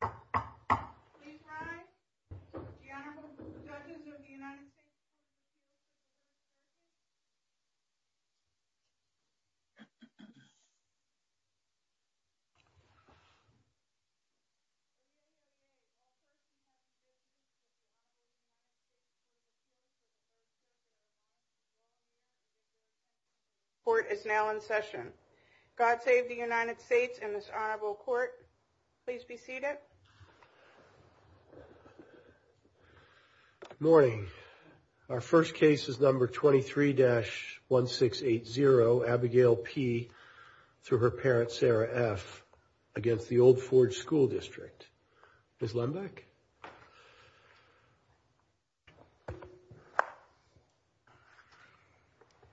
Please rise, the Honorable Judges of the United States of America. Court is now in session. God save the United States and this honorable court. Please be seated. Morning. Our first case is number 23 dash 1680 Abigail P. through her parents Sarah F. against the Old Ford School District. Good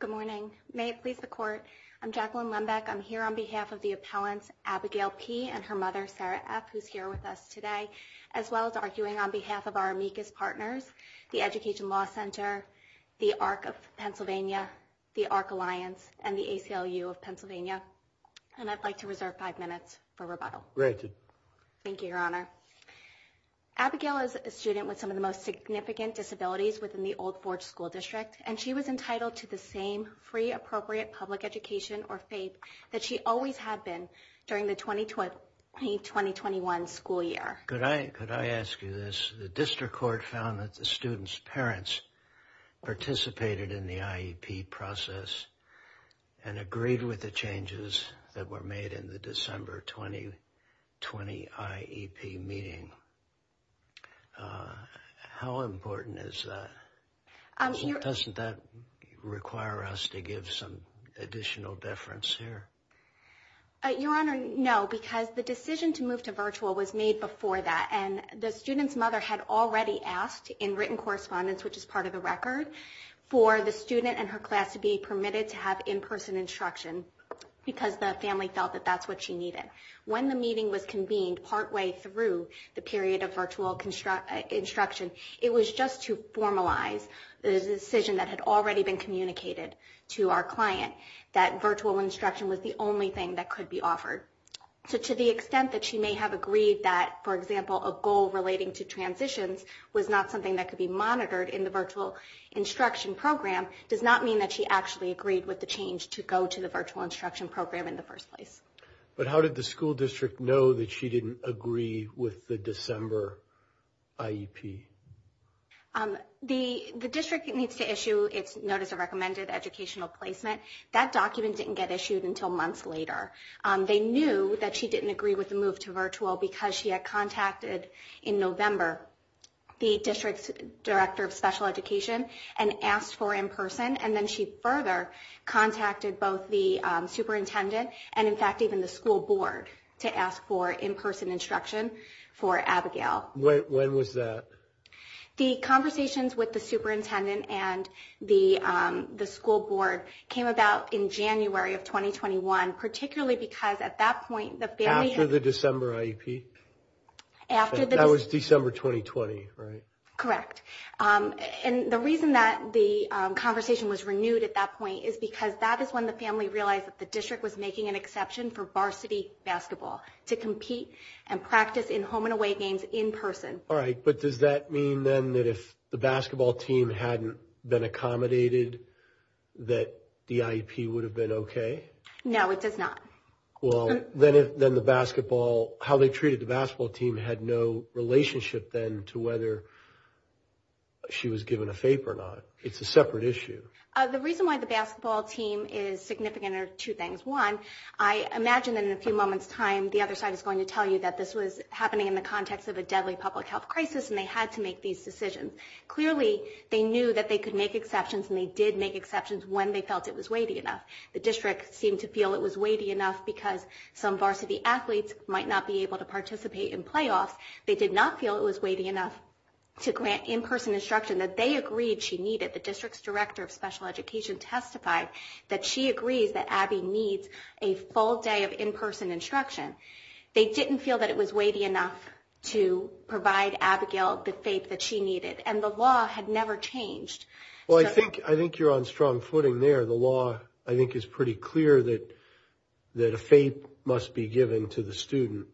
morning. May it please the court. I'm Jacqueline Lembeck. I'm here on behalf of the appellants Abigail P. and her mother Sarah F. who's here with us today, as well as arguing on behalf of our amicus partners, the Education Law Center, the Arc of Pennsylvania, the Arc Alliance, and the ACLU of Pennsylvania. And I'd like to reserve five minutes for rebuttal. Thank you, Your Honor. Abigail is a student with some of the most significant disabilities within the Old Ford School District, and she was entitled to the same free, appropriate public education or FAPE that she always had been during the 2020-2021 school year. Could I ask you this? The district court found that the students' parents participated in the IEP process and agreed with the changes that were made in the December 2020 IEP meeting. How important is that? Doesn't that require us to give some additional deference here? Your Honor, no, because the decision to move to virtual was made before that, and the student's mother had already asked in written correspondence, which is part of the record, for the student and her class to be permitted to have in-person instruction because the family felt that that's what she needed. When the meeting was convened partway through the period of virtual instruction, it was just to formalize the decision that had already been communicated to our client that virtual instruction was the only thing that could be offered. So to the extent that she may have agreed that, for example, a goal relating to transitions was not something that could be monitored in the virtual instruction program does not mean that she actually agreed with the change to go to the virtual instruction program in the first place. But how did the school district know that she didn't agree with the December IEP? The district needs to issue its Notice of Recommended Educational Placement. That document didn't get issued until months later. They knew that she didn't agree with the move to virtual because she had contacted in November the district's director of special education and asked for in-person, and then she further contacted both the superintendent and, in fact, even the school board to ask for in-person instruction for Abigail. When was that? The conversations with the superintendent and the school board came about in January of 2021, particularly because at that point the family had... After the December IEP? That was December 2020, right? Correct. And the reason that the conversation was renewed at that point is because that is when the family realized that the district was making an exception for varsity basketball to compete and practice in home and away games in person. All right, but does that mean then that if the basketball team hadn't been accommodated that the IEP would have been okay? No, it does not. Well, then the basketball, how they treated the basketball team had no relationship then to whether she was given a FAPE or not. It's a separate issue. The reason why the basketball team is significant are two things. One, I imagine in a few moments' time the other side is going to tell you that this was happening in the context of a deadly public health crisis and they had to make these decisions. Clearly, they knew that they could make exceptions, and they did make exceptions when they felt it was weighty enough. The district seemed to feel it was weighty enough because some varsity athletes might not be able to participate in playoffs. They did not feel it was weighty enough to grant in-person instruction that they agreed she needed. The district's director of special education testified that she agrees that Abby needs a full day of in-person instruction. They didn't feel that it was weighty enough to provide Abigail the FAPE that she needed, and the law had never changed. Well, I think you're on strong footing there. The law, I think, is pretty clear that a FAPE must be given to the student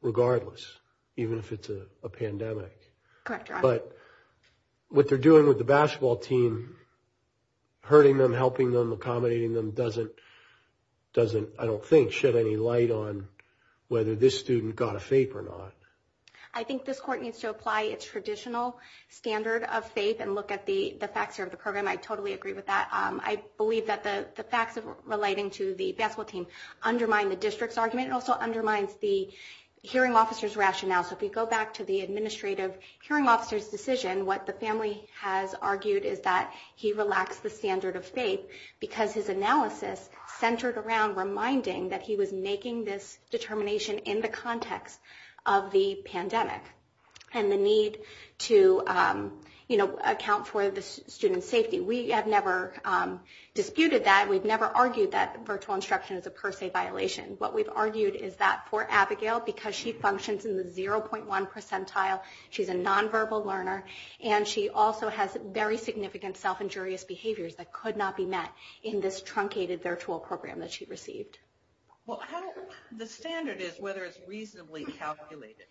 regardless, even if it's a pandemic. Correct, Your Honor. But what they're doing with the basketball team, hurting them, helping them, accommodating them doesn't, I don't think, shed any light on whether this student got a FAPE or not. I think this court needs to apply its traditional standard of FAPE and look at the facts here of the program. I totally agree with that. I believe that the facts relating to the basketball team undermine the district's argument and also undermines the hearing officer's rationale. So if we go back to the administrative hearing officer's decision, what the family has argued is that he relaxed the standard of FAPE because his analysis centered around reminding that he was making this determination in the context of the pandemic and the need to, you know, account for the student's safety. We have never disputed that. We've never argued that virtual instruction is a per se violation. What we've argued is that for Abigail, because she functions in the 0.1 percentile, she's a non-verbal learner, and she also has very significant self-injurious behaviors that could not be met in this truncated virtual program that she received. Well, the standard is whether it's reasonably calculated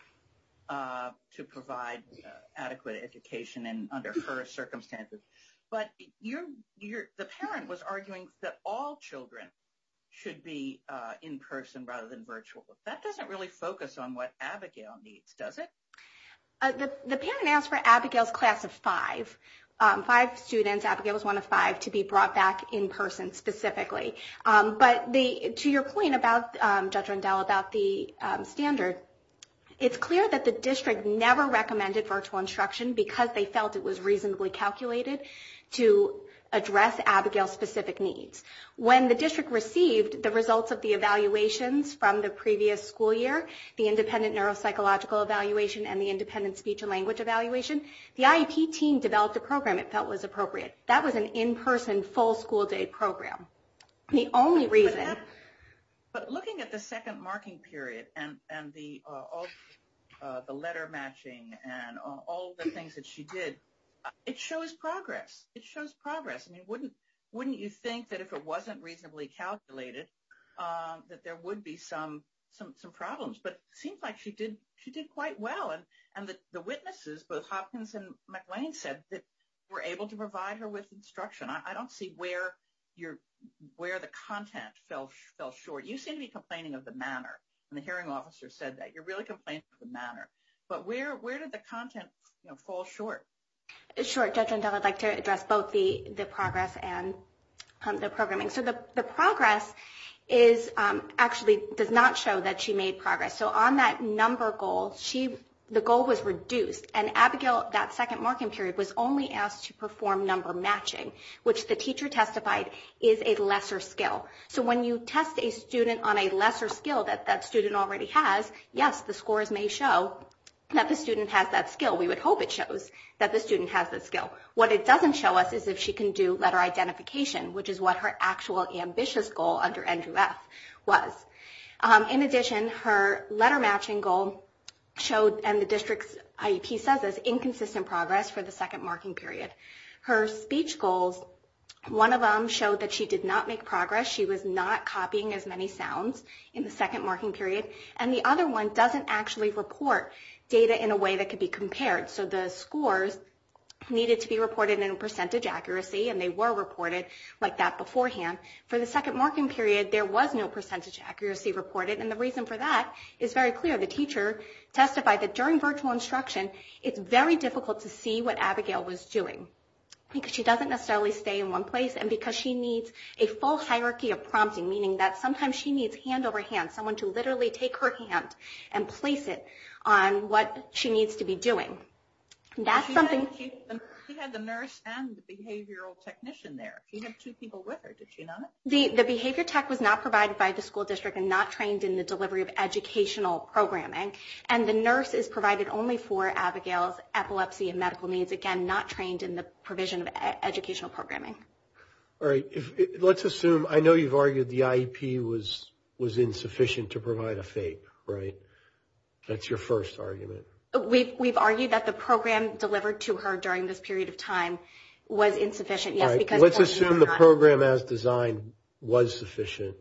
to provide adequate education under her circumstances. But the parent was arguing that all children should be in person rather than virtual. That doesn't really focus on what Abigail needs, does it? The parent asked for Abigail's class of five, five students, Abigail's one of five, to be brought back in person specifically. But to your point about, Judge Rundell, about the standard, it's clear that the district never recommended virtual instruction because they felt it was reasonably calculated to address Abigail's specific needs. When the district received the results of the evaluations from the previous school year, the independent neuropsychological evaluation and the independent speech and language evaluation, the IEP team developed a program it felt was appropriate. That was an in-person full school day program. The only reason. But looking at the second marking period and the letter matching and all the things that she did, it shows progress. It shows progress. I mean, wouldn't you think that if it wasn't reasonably calculated that there would be some problems? But it seems like she did quite well, and the witnesses, both Hopkins and McLean, said that they were able to provide her with instruction. I don't see where the content fell short. You seem to be complaining of the manner, and the hearing officer said that. You're really complaining of the manner. But where did the content fall short? Sure. Judge Rundell, I'd like to address both the progress and the programming. So the progress actually does not show that she made progress. So on that number goal, the goal was reduced, and Abigail, that second marking period, was only asked to perform number matching, which the teacher testified is a lesser skill. So when you test a student on a lesser skill that that student already has, yes, the scores may show that the student has that skill. We would hope it shows that the student has that skill. What it doesn't show us is if she can do letter identification, which is what her actual ambitious goal under Andrew F. was. In addition, her letter matching goal showed, and the district's IEP says this, inconsistent progress for the second marking period. Her speech goals, one of them showed that she did not make progress. She was not copying as many sounds in the second marking period. And the other one doesn't actually report data in a way that could be compared. So the scores needed to be reported in percentage accuracy, and they were reported like that beforehand. For the second marking period, there was no percentage accuracy reported, and the reason for that is very clear. The teacher testified that during virtual instruction, it's very difficult to see what Abigail was doing, because she doesn't necessarily stay in one place, and because she needs a full hierarchy of prompting, meaning that sometimes she needs hand over hand, someone to literally take her hand and place it on what she needs to be doing. She had the nurse and the behavioral technician there. You had two people with her, did you not? The behavior tech was not provided by the school district and not trained in the delivery of educational programming. And the nurse is provided only for Abigail's epilepsy and medical needs, again, not trained in the provision of educational programming. All right. Let's assume, I know you've argued the IEP was insufficient to provide a FAPE, right? That's your first argument. We've argued that the program delivered to her during this period of time was insufficient, yes. All right. Let's assume the program as designed was sufficient.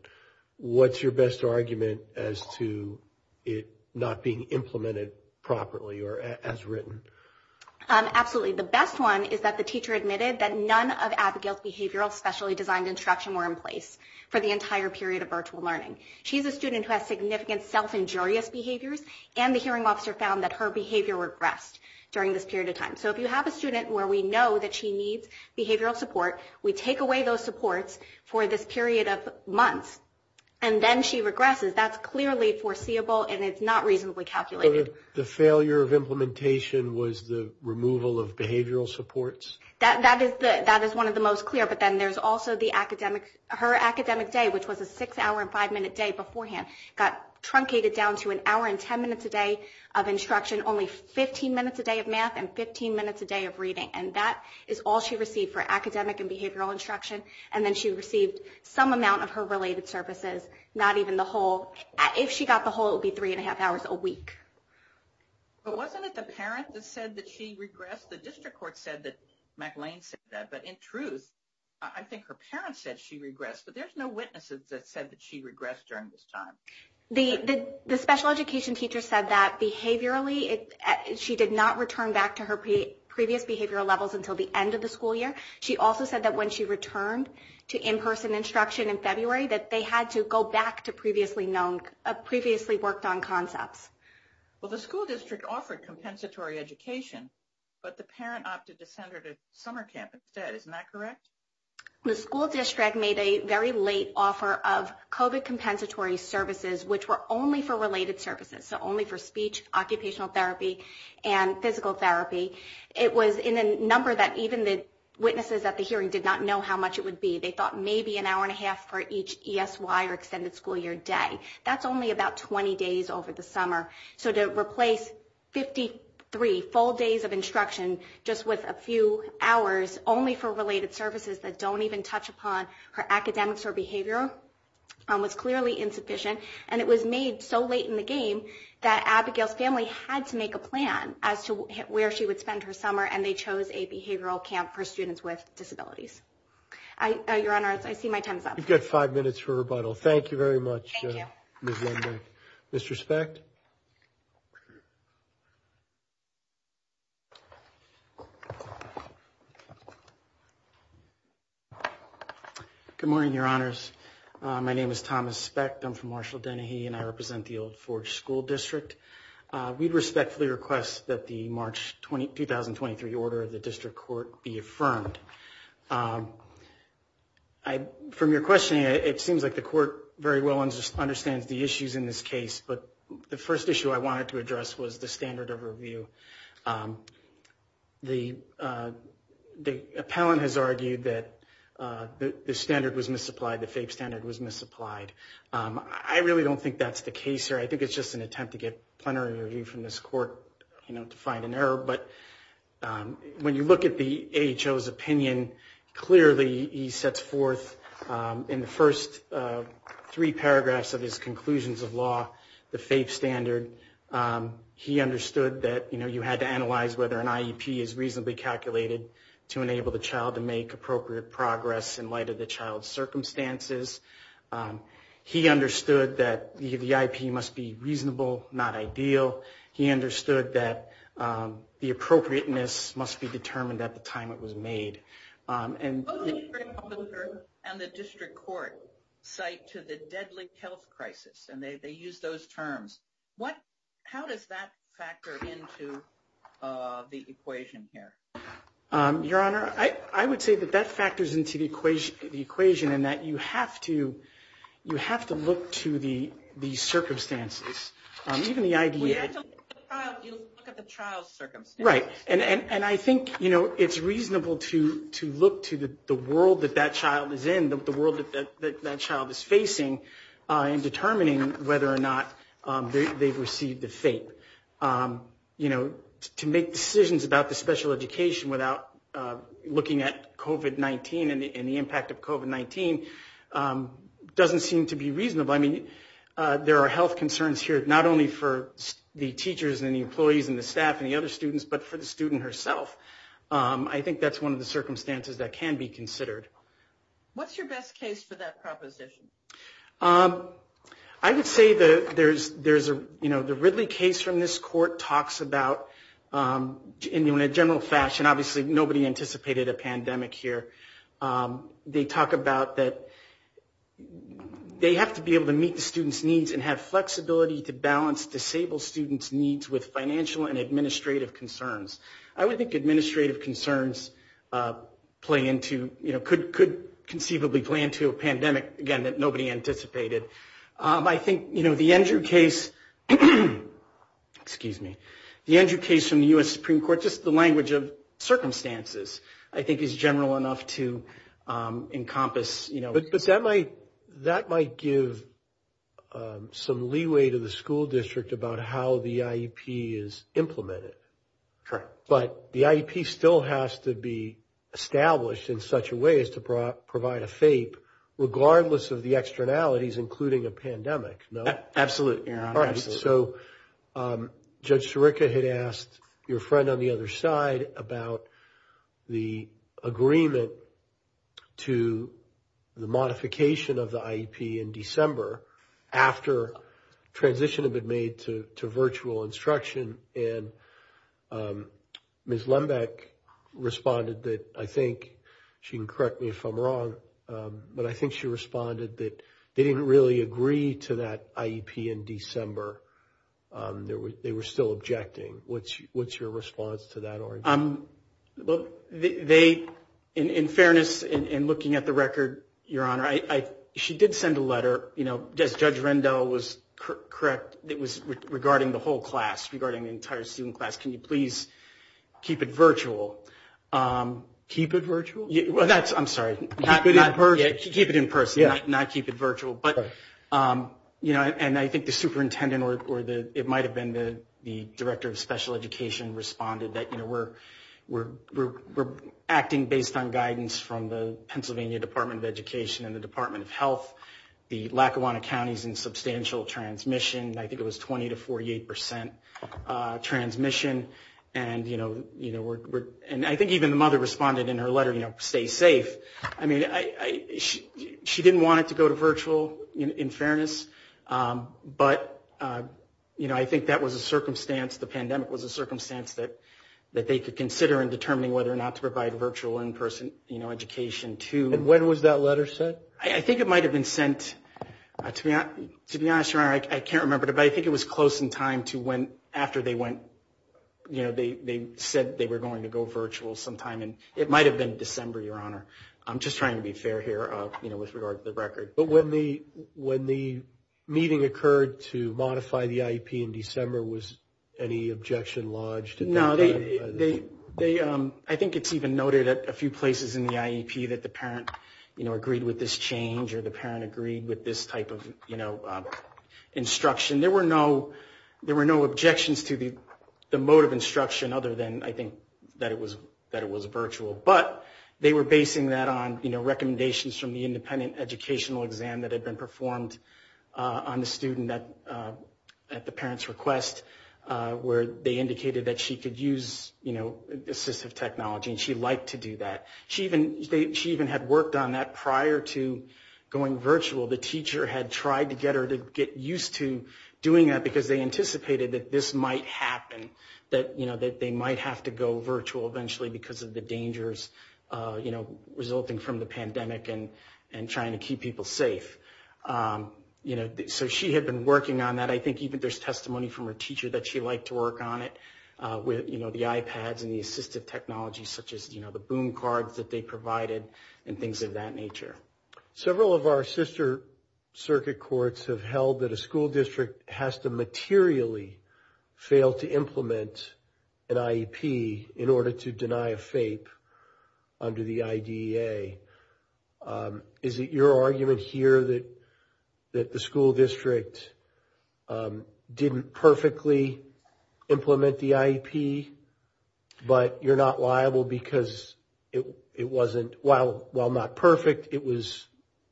What's your best argument as to it not being implemented properly or as written? Absolutely. The best one is that the teacher admitted that none of Abigail's behavioral specially designed instruction were in place for the entire period of virtual learning. She's a student who has significant self-injurious behaviors, So if you have a student where we know that she needs behavioral support, we take away those supports for this period of months, and then she regresses. That's clearly foreseeable, and it's not reasonably calculated. So the failure of implementation was the removal of behavioral supports? That is one of the most clear. But then there's also her academic day, which was a six-hour and five-minute day beforehand, got truncated down to an hour and ten minutes a day of instruction, only 15 minutes a day of math and 15 minutes a day of reading. And that is all she received for academic and behavioral instruction, and then she received some amount of her related services, not even the whole. If she got the whole, it would be three and a half hours a week. But wasn't it the parent that said that she regressed? The district court said that MacLaine said that. But in truth, I think her parent said she regressed, but there's no witnesses that said that she regressed during this time. The special education teacher said that behaviorally, she did not return back to her previous behavioral levels until the end of the school year. She also said that when she returned to in-person instruction in February, that they had to go back to previously worked on concepts. Well, the school district offered compensatory education, but the parent opted to send her to summer camp instead. Isn't that correct? The school district made a very late offer of COVID compensatory services, which were only for related services, so only for speech, occupational therapy, and physical therapy. It was in a number that even the witnesses at the hearing did not know how much it would be. They thought maybe an hour and a half for each ESY or extended school year day. That's only about 20 days over the summer. So to replace 53 full days of instruction just with a few hours only for related services, that don't even touch upon her academics or behavior was clearly insufficient. And it was made so late in the game that Abigail's family had to make a plan as to where she would spend her summer, and they chose a behavioral camp for students with disabilities. Your Honor, I see my time is up. You've got five minutes for rebuttal. Thank you very much, Ms. Lundberg. Mr. Specht. Good morning, Your Honors. My name is Thomas Specht. I'm from Marshall-Dennehy, and I represent the Old Forge School District. We respectfully request that the March 2023 order of the district court be affirmed. From your questioning, it seems like the court very well understands the issues in this case, but the first issue I wanted to address was the standard of review. The appellant has argued that the standard was misapplied, the FAPE standard was misapplied. I really don't think that's the case here. I think it's just an attempt to get plenary review from this court, you know, to find an error. But when you look at the AHO's opinion, clearly he sets forth in the first three paragraphs of his conclusions of law the FAPE standard. He understood that, you know, you had to analyze whether an IEP is reasonably calculated to enable the child to make appropriate progress in light of the child's circumstances. He understood that the IEP must be reasonable, not ideal. He understood that the appropriateness must be determined at the time it was made. Both the district officer and the district court cite to the deadly health crisis, and they use those terms. How does that factor into the equation here? Your Honor, I would say that that factors into the equation in that you have to look to the circumstances. You have to look at the child's circumstances. Right. And I think, you know, it's reasonable to look to the world that that child is in, the world that that child is facing in determining whether or not they've received the FAPE. You know, to make decisions about the special education without looking at COVID-19 and the impact of COVID-19 doesn't seem to be reasonable. I mean, there are health concerns here, not only for the teachers and the employees and the staff and the other students, but for the student herself. I think that's one of the circumstances that can be considered. What's your best case for that proposition? I would say that there's a, you know, the Ridley case from this court talks about, in a general fashion, obviously nobody anticipated a pandemic here. They talk about that they have to be able to meet the student's needs and have flexibility to balance disabled students' needs with financial and administrative concerns. I would think administrative concerns play into, you know, could conceivably play into a pandemic, again, that nobody anticipated. I think, you know, the Andrew case, excuse me, the Andrew case from the U.S. Supreme Court, just the language of circumstances I think is general enough to encompass, you know. But that might give some leeway to the school district about how the IEP is implemented. Correct. But the IEP still has to be established in such a way as to provide a FAPE, regardless of the externalities, including a pandemic, no? Absolutely, Your Honor, absolutely. So Judge Sirica had asked your friend on the other side about the agreement to the modification of the IEP in December after transition had been made to virtual instruction. And Ms. Lembeck responded that, I think, she can correct me if I'm wrong, but I think she responded that they didn't really agree to that IEP in December. They were still objecting. What's your response to that? They, in fairness, in looking at the record, Your Honor, she did send a letter, you know, as Judge Rendell was correct, it was regarding the whole class, regarding the entire student class. Can you please keep it virtual? Keep it virtual? I'm sorry, keep it in person, not keep it virtual. But, you know, and I think the superintendent or it might have been the director of special education responded that, you know, we're acting based on guidance from the Pennsylvania Department of Education and the Department of Health. The Lackawanna County is in substantial transmission. I think it was 20 to 48 percent transmission. And, you know, and I think even the mother responded in her letter, you know, stay safe. I mean, she didn't want it to go to virtual in fairness. But, you know, I think that was a circumstance. The pandemic was a circumstance that they could consider in determining whether or not to provide virtual in-person education to. And when was that letter sent? I think it might have been sent, to be honest, Your Honor, I can't remember. But I think it was close in time to when after they went, you know, they said they were going to go virtual sometime. And it might have been December, Your Honor. I'm just trying to be fair here, you know, with regard to the record. But when the meeting occurred to modify the IEP in December, was any objection lodged? No, I think it's even noted at a few places in the IEP that the parent, you know, there were no objections to the mode of instruction other than, I think, that it was virtual. But they were basing that on, you know, recommendations from the independent educational exam that had been performed on the student at the parent's request, where they indicated that she could use, you know, assistive technology, and she liked to do that. She even had worked on that prior to going virtual. The teacher had tried to get her to get used to doing that because they anticipated that this might happen, that, you know, that they might have to go virtual eventually because of the dangers, you know, resulting from the pandemic and trying to keep people safe. You know, so she had been working on that. I think even there's testimony from her teacher that she liked to work on it with, you know, the iPads and the assistive technology such as, you know, the boom cards that they provided and things of that nature. Several of our sister circuit courts have held that a school district has to materially fail to implement an IEP in order to deny a FAPE under the IDEA. Is it your argument here that the school district didn't perfectly implement the IEP, but you're not liable because it wasn't, while not perfect, it was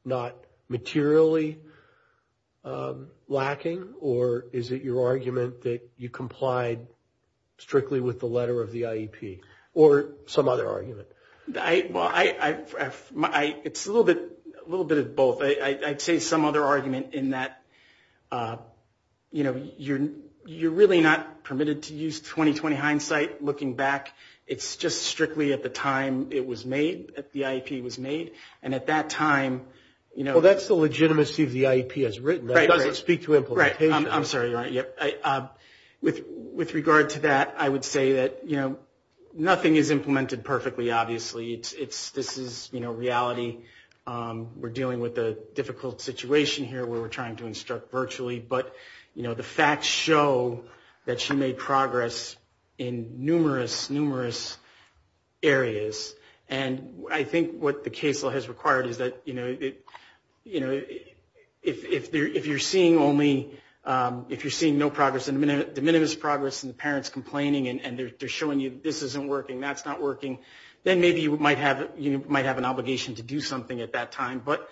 not materially lacking, or is it your argument that you complied strictly with the letter of the IEP or some other argument? Well, it's a little bit of both. I'd say some other argument in that, you know, you're really not permitted to use 20-20 hindsight looking back. It's just strictly at the time it was made, the IEP was made, and at that time, you know. Well, that's the legitimacy of the IEP as written. It doesn't speak to implementation. I'm sorry. With regard to that, I would say that, you know, nothing is implemented perfectly, obviously. This is, you know, reality. We're dealing with a difficult situation here where we're trying to instruct virtually. But, you know, the facts show that she made progress in numerous, numerous areas. And I think what the case law has required is that, you know, if you're seeing only, if you're seeing no progress, de minimis progress and the parents complaining and they're showing you this isn't working, that's not working, then maybe you might have an obligation to do something at that time. But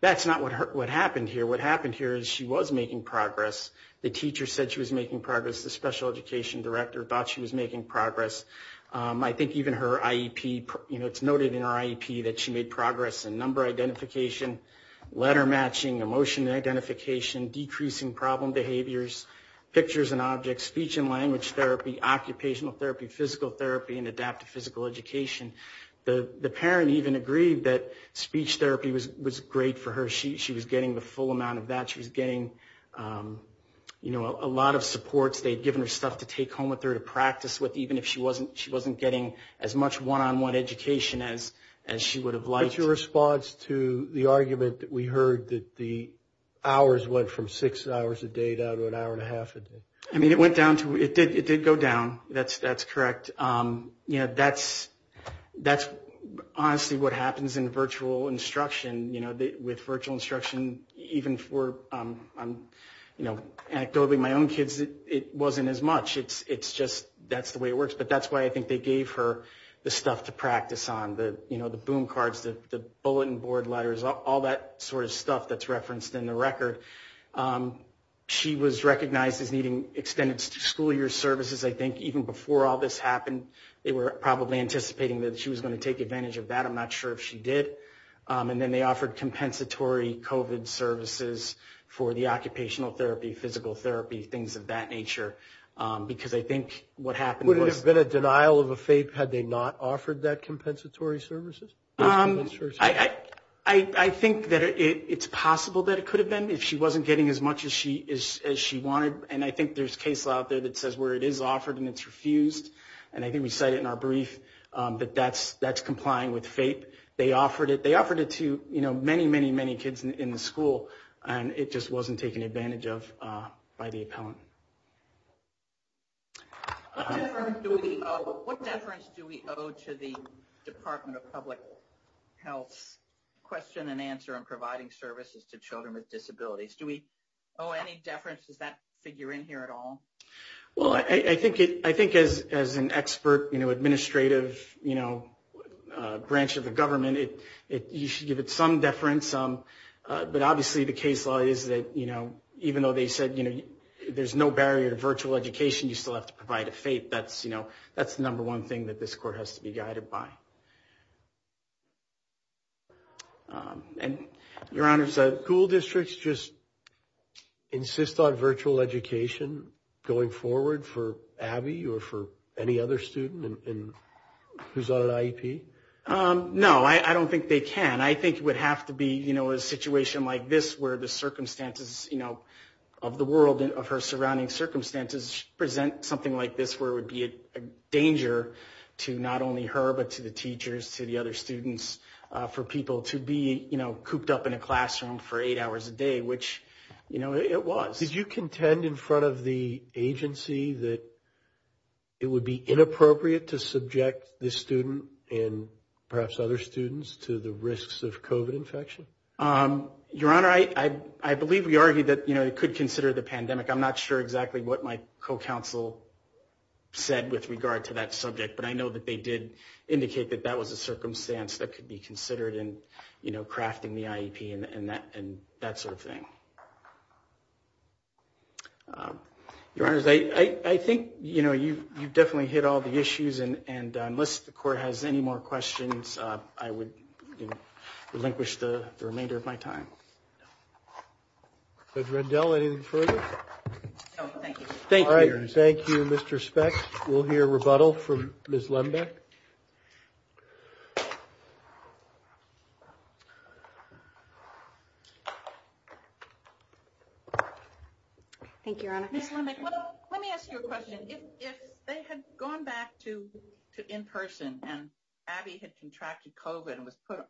that's not what happened here. What happened here is she was making progress. The teacher said she was making progress. The special education director thought she was making progress. I think even her IEP, you know, it's noted in her IEP that she made progress in number identification, letter matching, emotion identification, decreasing problem behaviors, pictures and objects, speech and language therapy, occupational therapy, physical therapy, and adaptive physical education. The parent even agreed that speech therapy was great for her. She was getting the full amount of that. She was getting, you know, a lot of supports. They had given her stuff to take home with her to practice with, even if she wasn't getting as much one-on-one education as she would have liked. What's your response to the argument that we heard that the hours went from six hours a day down to an hour and a half a day? I mean, it went down to, it did go down. That's correct. You know, that's honestly what happens in virtual instruction. You know, with virtual instruction, even for, you know, anecdotally, my own kids, it wasn't as much. It's just that's the way it works. But that's why I think they gave her the stuff to practice on, you know, the boom cards, the bulletin board letters, all that sort of stuff that's referenced in the record. She was recognized as needing extended school year services, I think. Even before all this happened, they were probably anticipating that she was going to take advantage of that. I'm not sure if she did. And then they offered compensatory COVID services for the occupational therapy, physical therapy, things of that nature. Because I think what happened was... Would it have been a denial of a FAPE had they not offered that compensatory services? I think that it's possible that it could have been if she wasn't getting as much as she wanted. And I think there's case law out there that says where it is offered and it's refused. And I think we cite it in our brief that that's complying with FAPE. They offered it to many, many, many kids in the school. And it just wasn't taken advantage of by the appellant. What deference do we owe to the Department of Public Health's question and answer on providing services to children with disabilities? Do we owe any deference? Does that figure in here at all? Well, I think as an expert administrative branch of the government, you should give it some deference. But obviously the case law is that even though they said there's no barrier to virtual education, you still have to provide a FAPE. That's the number one thing that this court has to be guided by. Your Honor, school districts just insist on virtual education going forward for Abby or for any other student who's on an IEP? No, I don't think they can. I think it would have to be a situation like this where the circumstances of the world and of her surrounding circumstances present something like this where it would be a danger to not only her, but to the teachers, to the other students, for people to be cooped up in a classroom for eight hours a day, which it was. Did you contend in front of the agency that it would be inappropriate to subject this student and perhaps other students to the risks of COVID infection? Your Honor, I believe we argued that it could consider the pandemic. I'm not sure exactly what my co-counsel said with regard to that subject. But I know that they did indicate that that was a circumstance that could be considered in crafting the IEP and that sort of thing. Your Honor, I think you've definitely hit all the issues. And unless the court has any more questions, I would relinquish the remainder of my time. Judge Rendell, anything further? No, thank you. Thank you, Mr. Speck. We'll hear rebuttal from Ms. Lembeck. Thank you, Your Honor. Ms. Lembeck, let me ask you a question. If they had gone back to in-person and Abby had contracted COVID and was put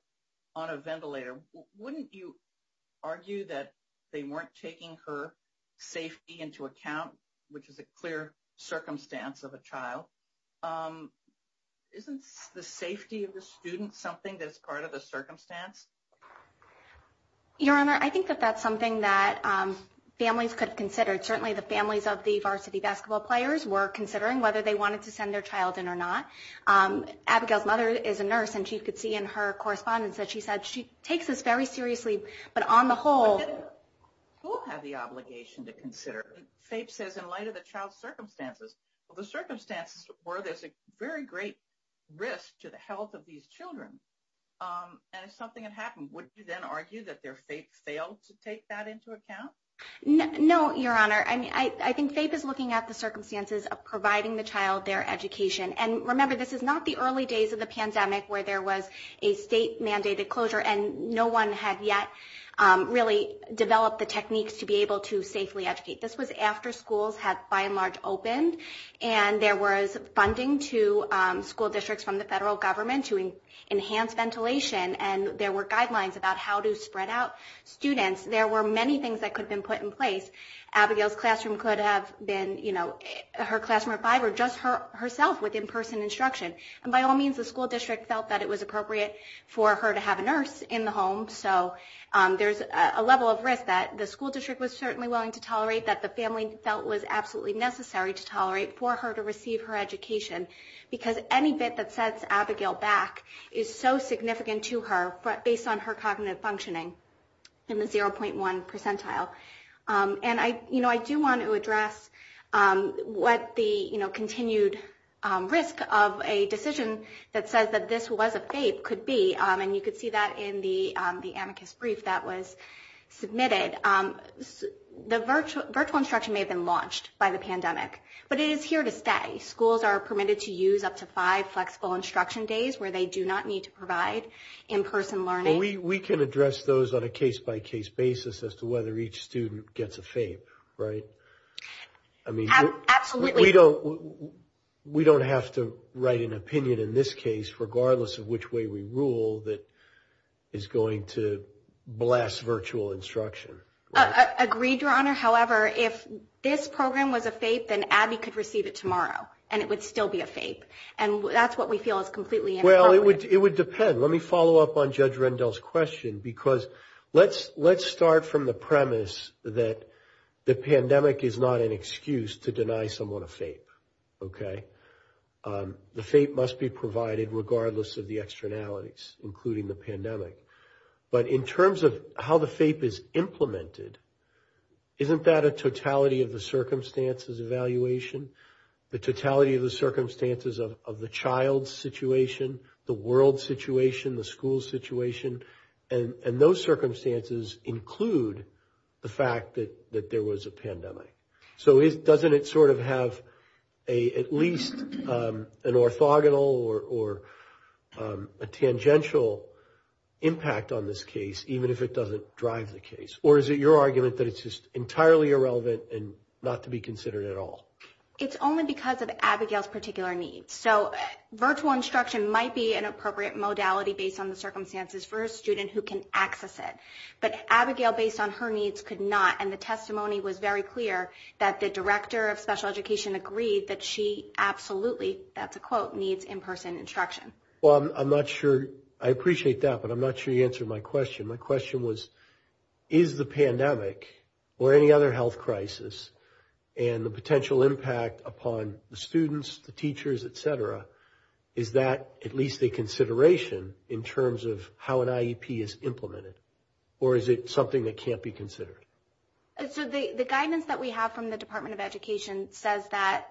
on a ventilator, wouldn't you argue that they weren't taking her safety into account, which is a clear circumstance of a child? Isn't the safety of the student something that's part of the circumstance? Your Honor, I think that that's something that families could consider. Certainly, the families of the varsity basketball players were considering whether they wanted to send their child in or not. Abigail's mother is a nurse, and she could see in her correspondence that she said she takes this very seriously. But on the whole, who will have the obligation to consider? FAPE says in light of the child's circumstances, the circumstances where there's a very great risk to the health of these children. And if something had happened, would you then argue that their FAPE failed to take that into account? No, Your Honor. I think FAPE is looking at the circumstances of providing the child their education. And remember, this is not the early days of the pandemic where there was a state-mandated closure and no one had yet really developed the techniques to be able to safely educate. This was after schools had, by and large, opened. And there was funding to school districts from the federal government to enhance ventilation. And there were guidelines about how to spread out students. There were many things that could have been put in place. Abigail's classroom could have been, you know, her classroom or five or just herself with in-person instruction. And by all means, the school district felt that it was appropriate for her to have a nurse in the home. So there's a level of risk that the school district was certainly willing to tolerate, that the family felt was absolutely necessary to tolerate for her to receive her education. Because any bit that sets Abigail back is so significant to her based on her cognitive functioning in the 0.1 percentile. And, you know, I do want to address what the, you know, continued risk of a decision that says that this was a FAPE could be. And you could see that in the amicus brief that was submitted. The virtual instruction may have been launched by the pandemic, but it is here to stay. Schools are permitted to use up to five flexible instruction days where they do not need to provide in-person learning. We can address those on a case-by-case basis as to whether each student gets a FAPE, right? Absolutely. We don't have to write an opinion in this case, regardless of which way we rule, that is going to blast virtual instruction. Agreed, Your Honor. However, if this program was a FAPE, then Abby could receive it tomorrow, and it would still be a FAPE. And that's what we feel is completely inappropriate. Well, it would depend. Let me follow up on Judge Rendell's question, because let's start from the premise that the pandemic is not an excuse to deny someone a FAPE, okay? The FAPE must be provided regardless of the externalities, including the pandemic. But in terms of how the FAPE is implemented, isn't that a totality of the circumstances evaluation, the totality of the circumstances of the child's situation, the world's situation, the school's situation? And those circumstances include the fact that there was a pandemic. So doesn't it sort of have at least an orthogonal or a tangential impact on this case, even if it doesn't drive the case? Or is it your argument that it's just entirely irrelevant and not to be considered at all? It's only because of Abigail's particular needs. So virtual instruction might be an appropriate modality based on the circumstances for a student who can access it. But Abigail, based on her needs, could not. And the testimony was very clear that the director of special education agreed that she absolutely, that's a quote, needs in-person instruction. Well, I'm not sure. I appreciate that, but I'm not sure you answered my question. My question was, is the pandemic or any other health crisis and the potential impact upon the students, the teachers, et cetera, is that at least a consideration in terms of how an IEP is implemented? Or is it something that can't be considered? So the guidance that we have from the Department of Education says that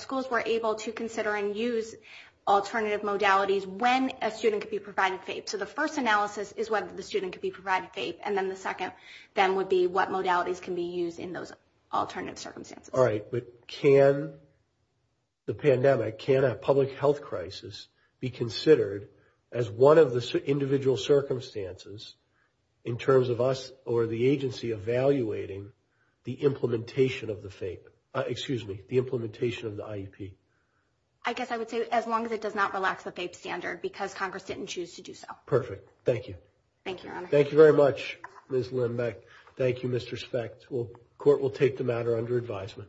schools were able to consider and use alternative modalities when a student could be provided FAPE. So the first analysis is whether the student could be provided FAPE. And then the second then would be what modalities can be used in those alternative circumstances. All right. But can the pandemic, can a public health crisis be considered as one of the individual circumstances in terms of us or the agency evaluating the implementation of the FAPE, excuse me, the implementation of the IEP? I guess I would say as long as it does not relax the FAPE standard because Congress didn't choose to do so. Perfect. Thank you. Thank you, Your Honor. Thank you very much, Ms. Lindbeck. Thank you, Mr. Specht. Court will take the matter under advisement. Thank you.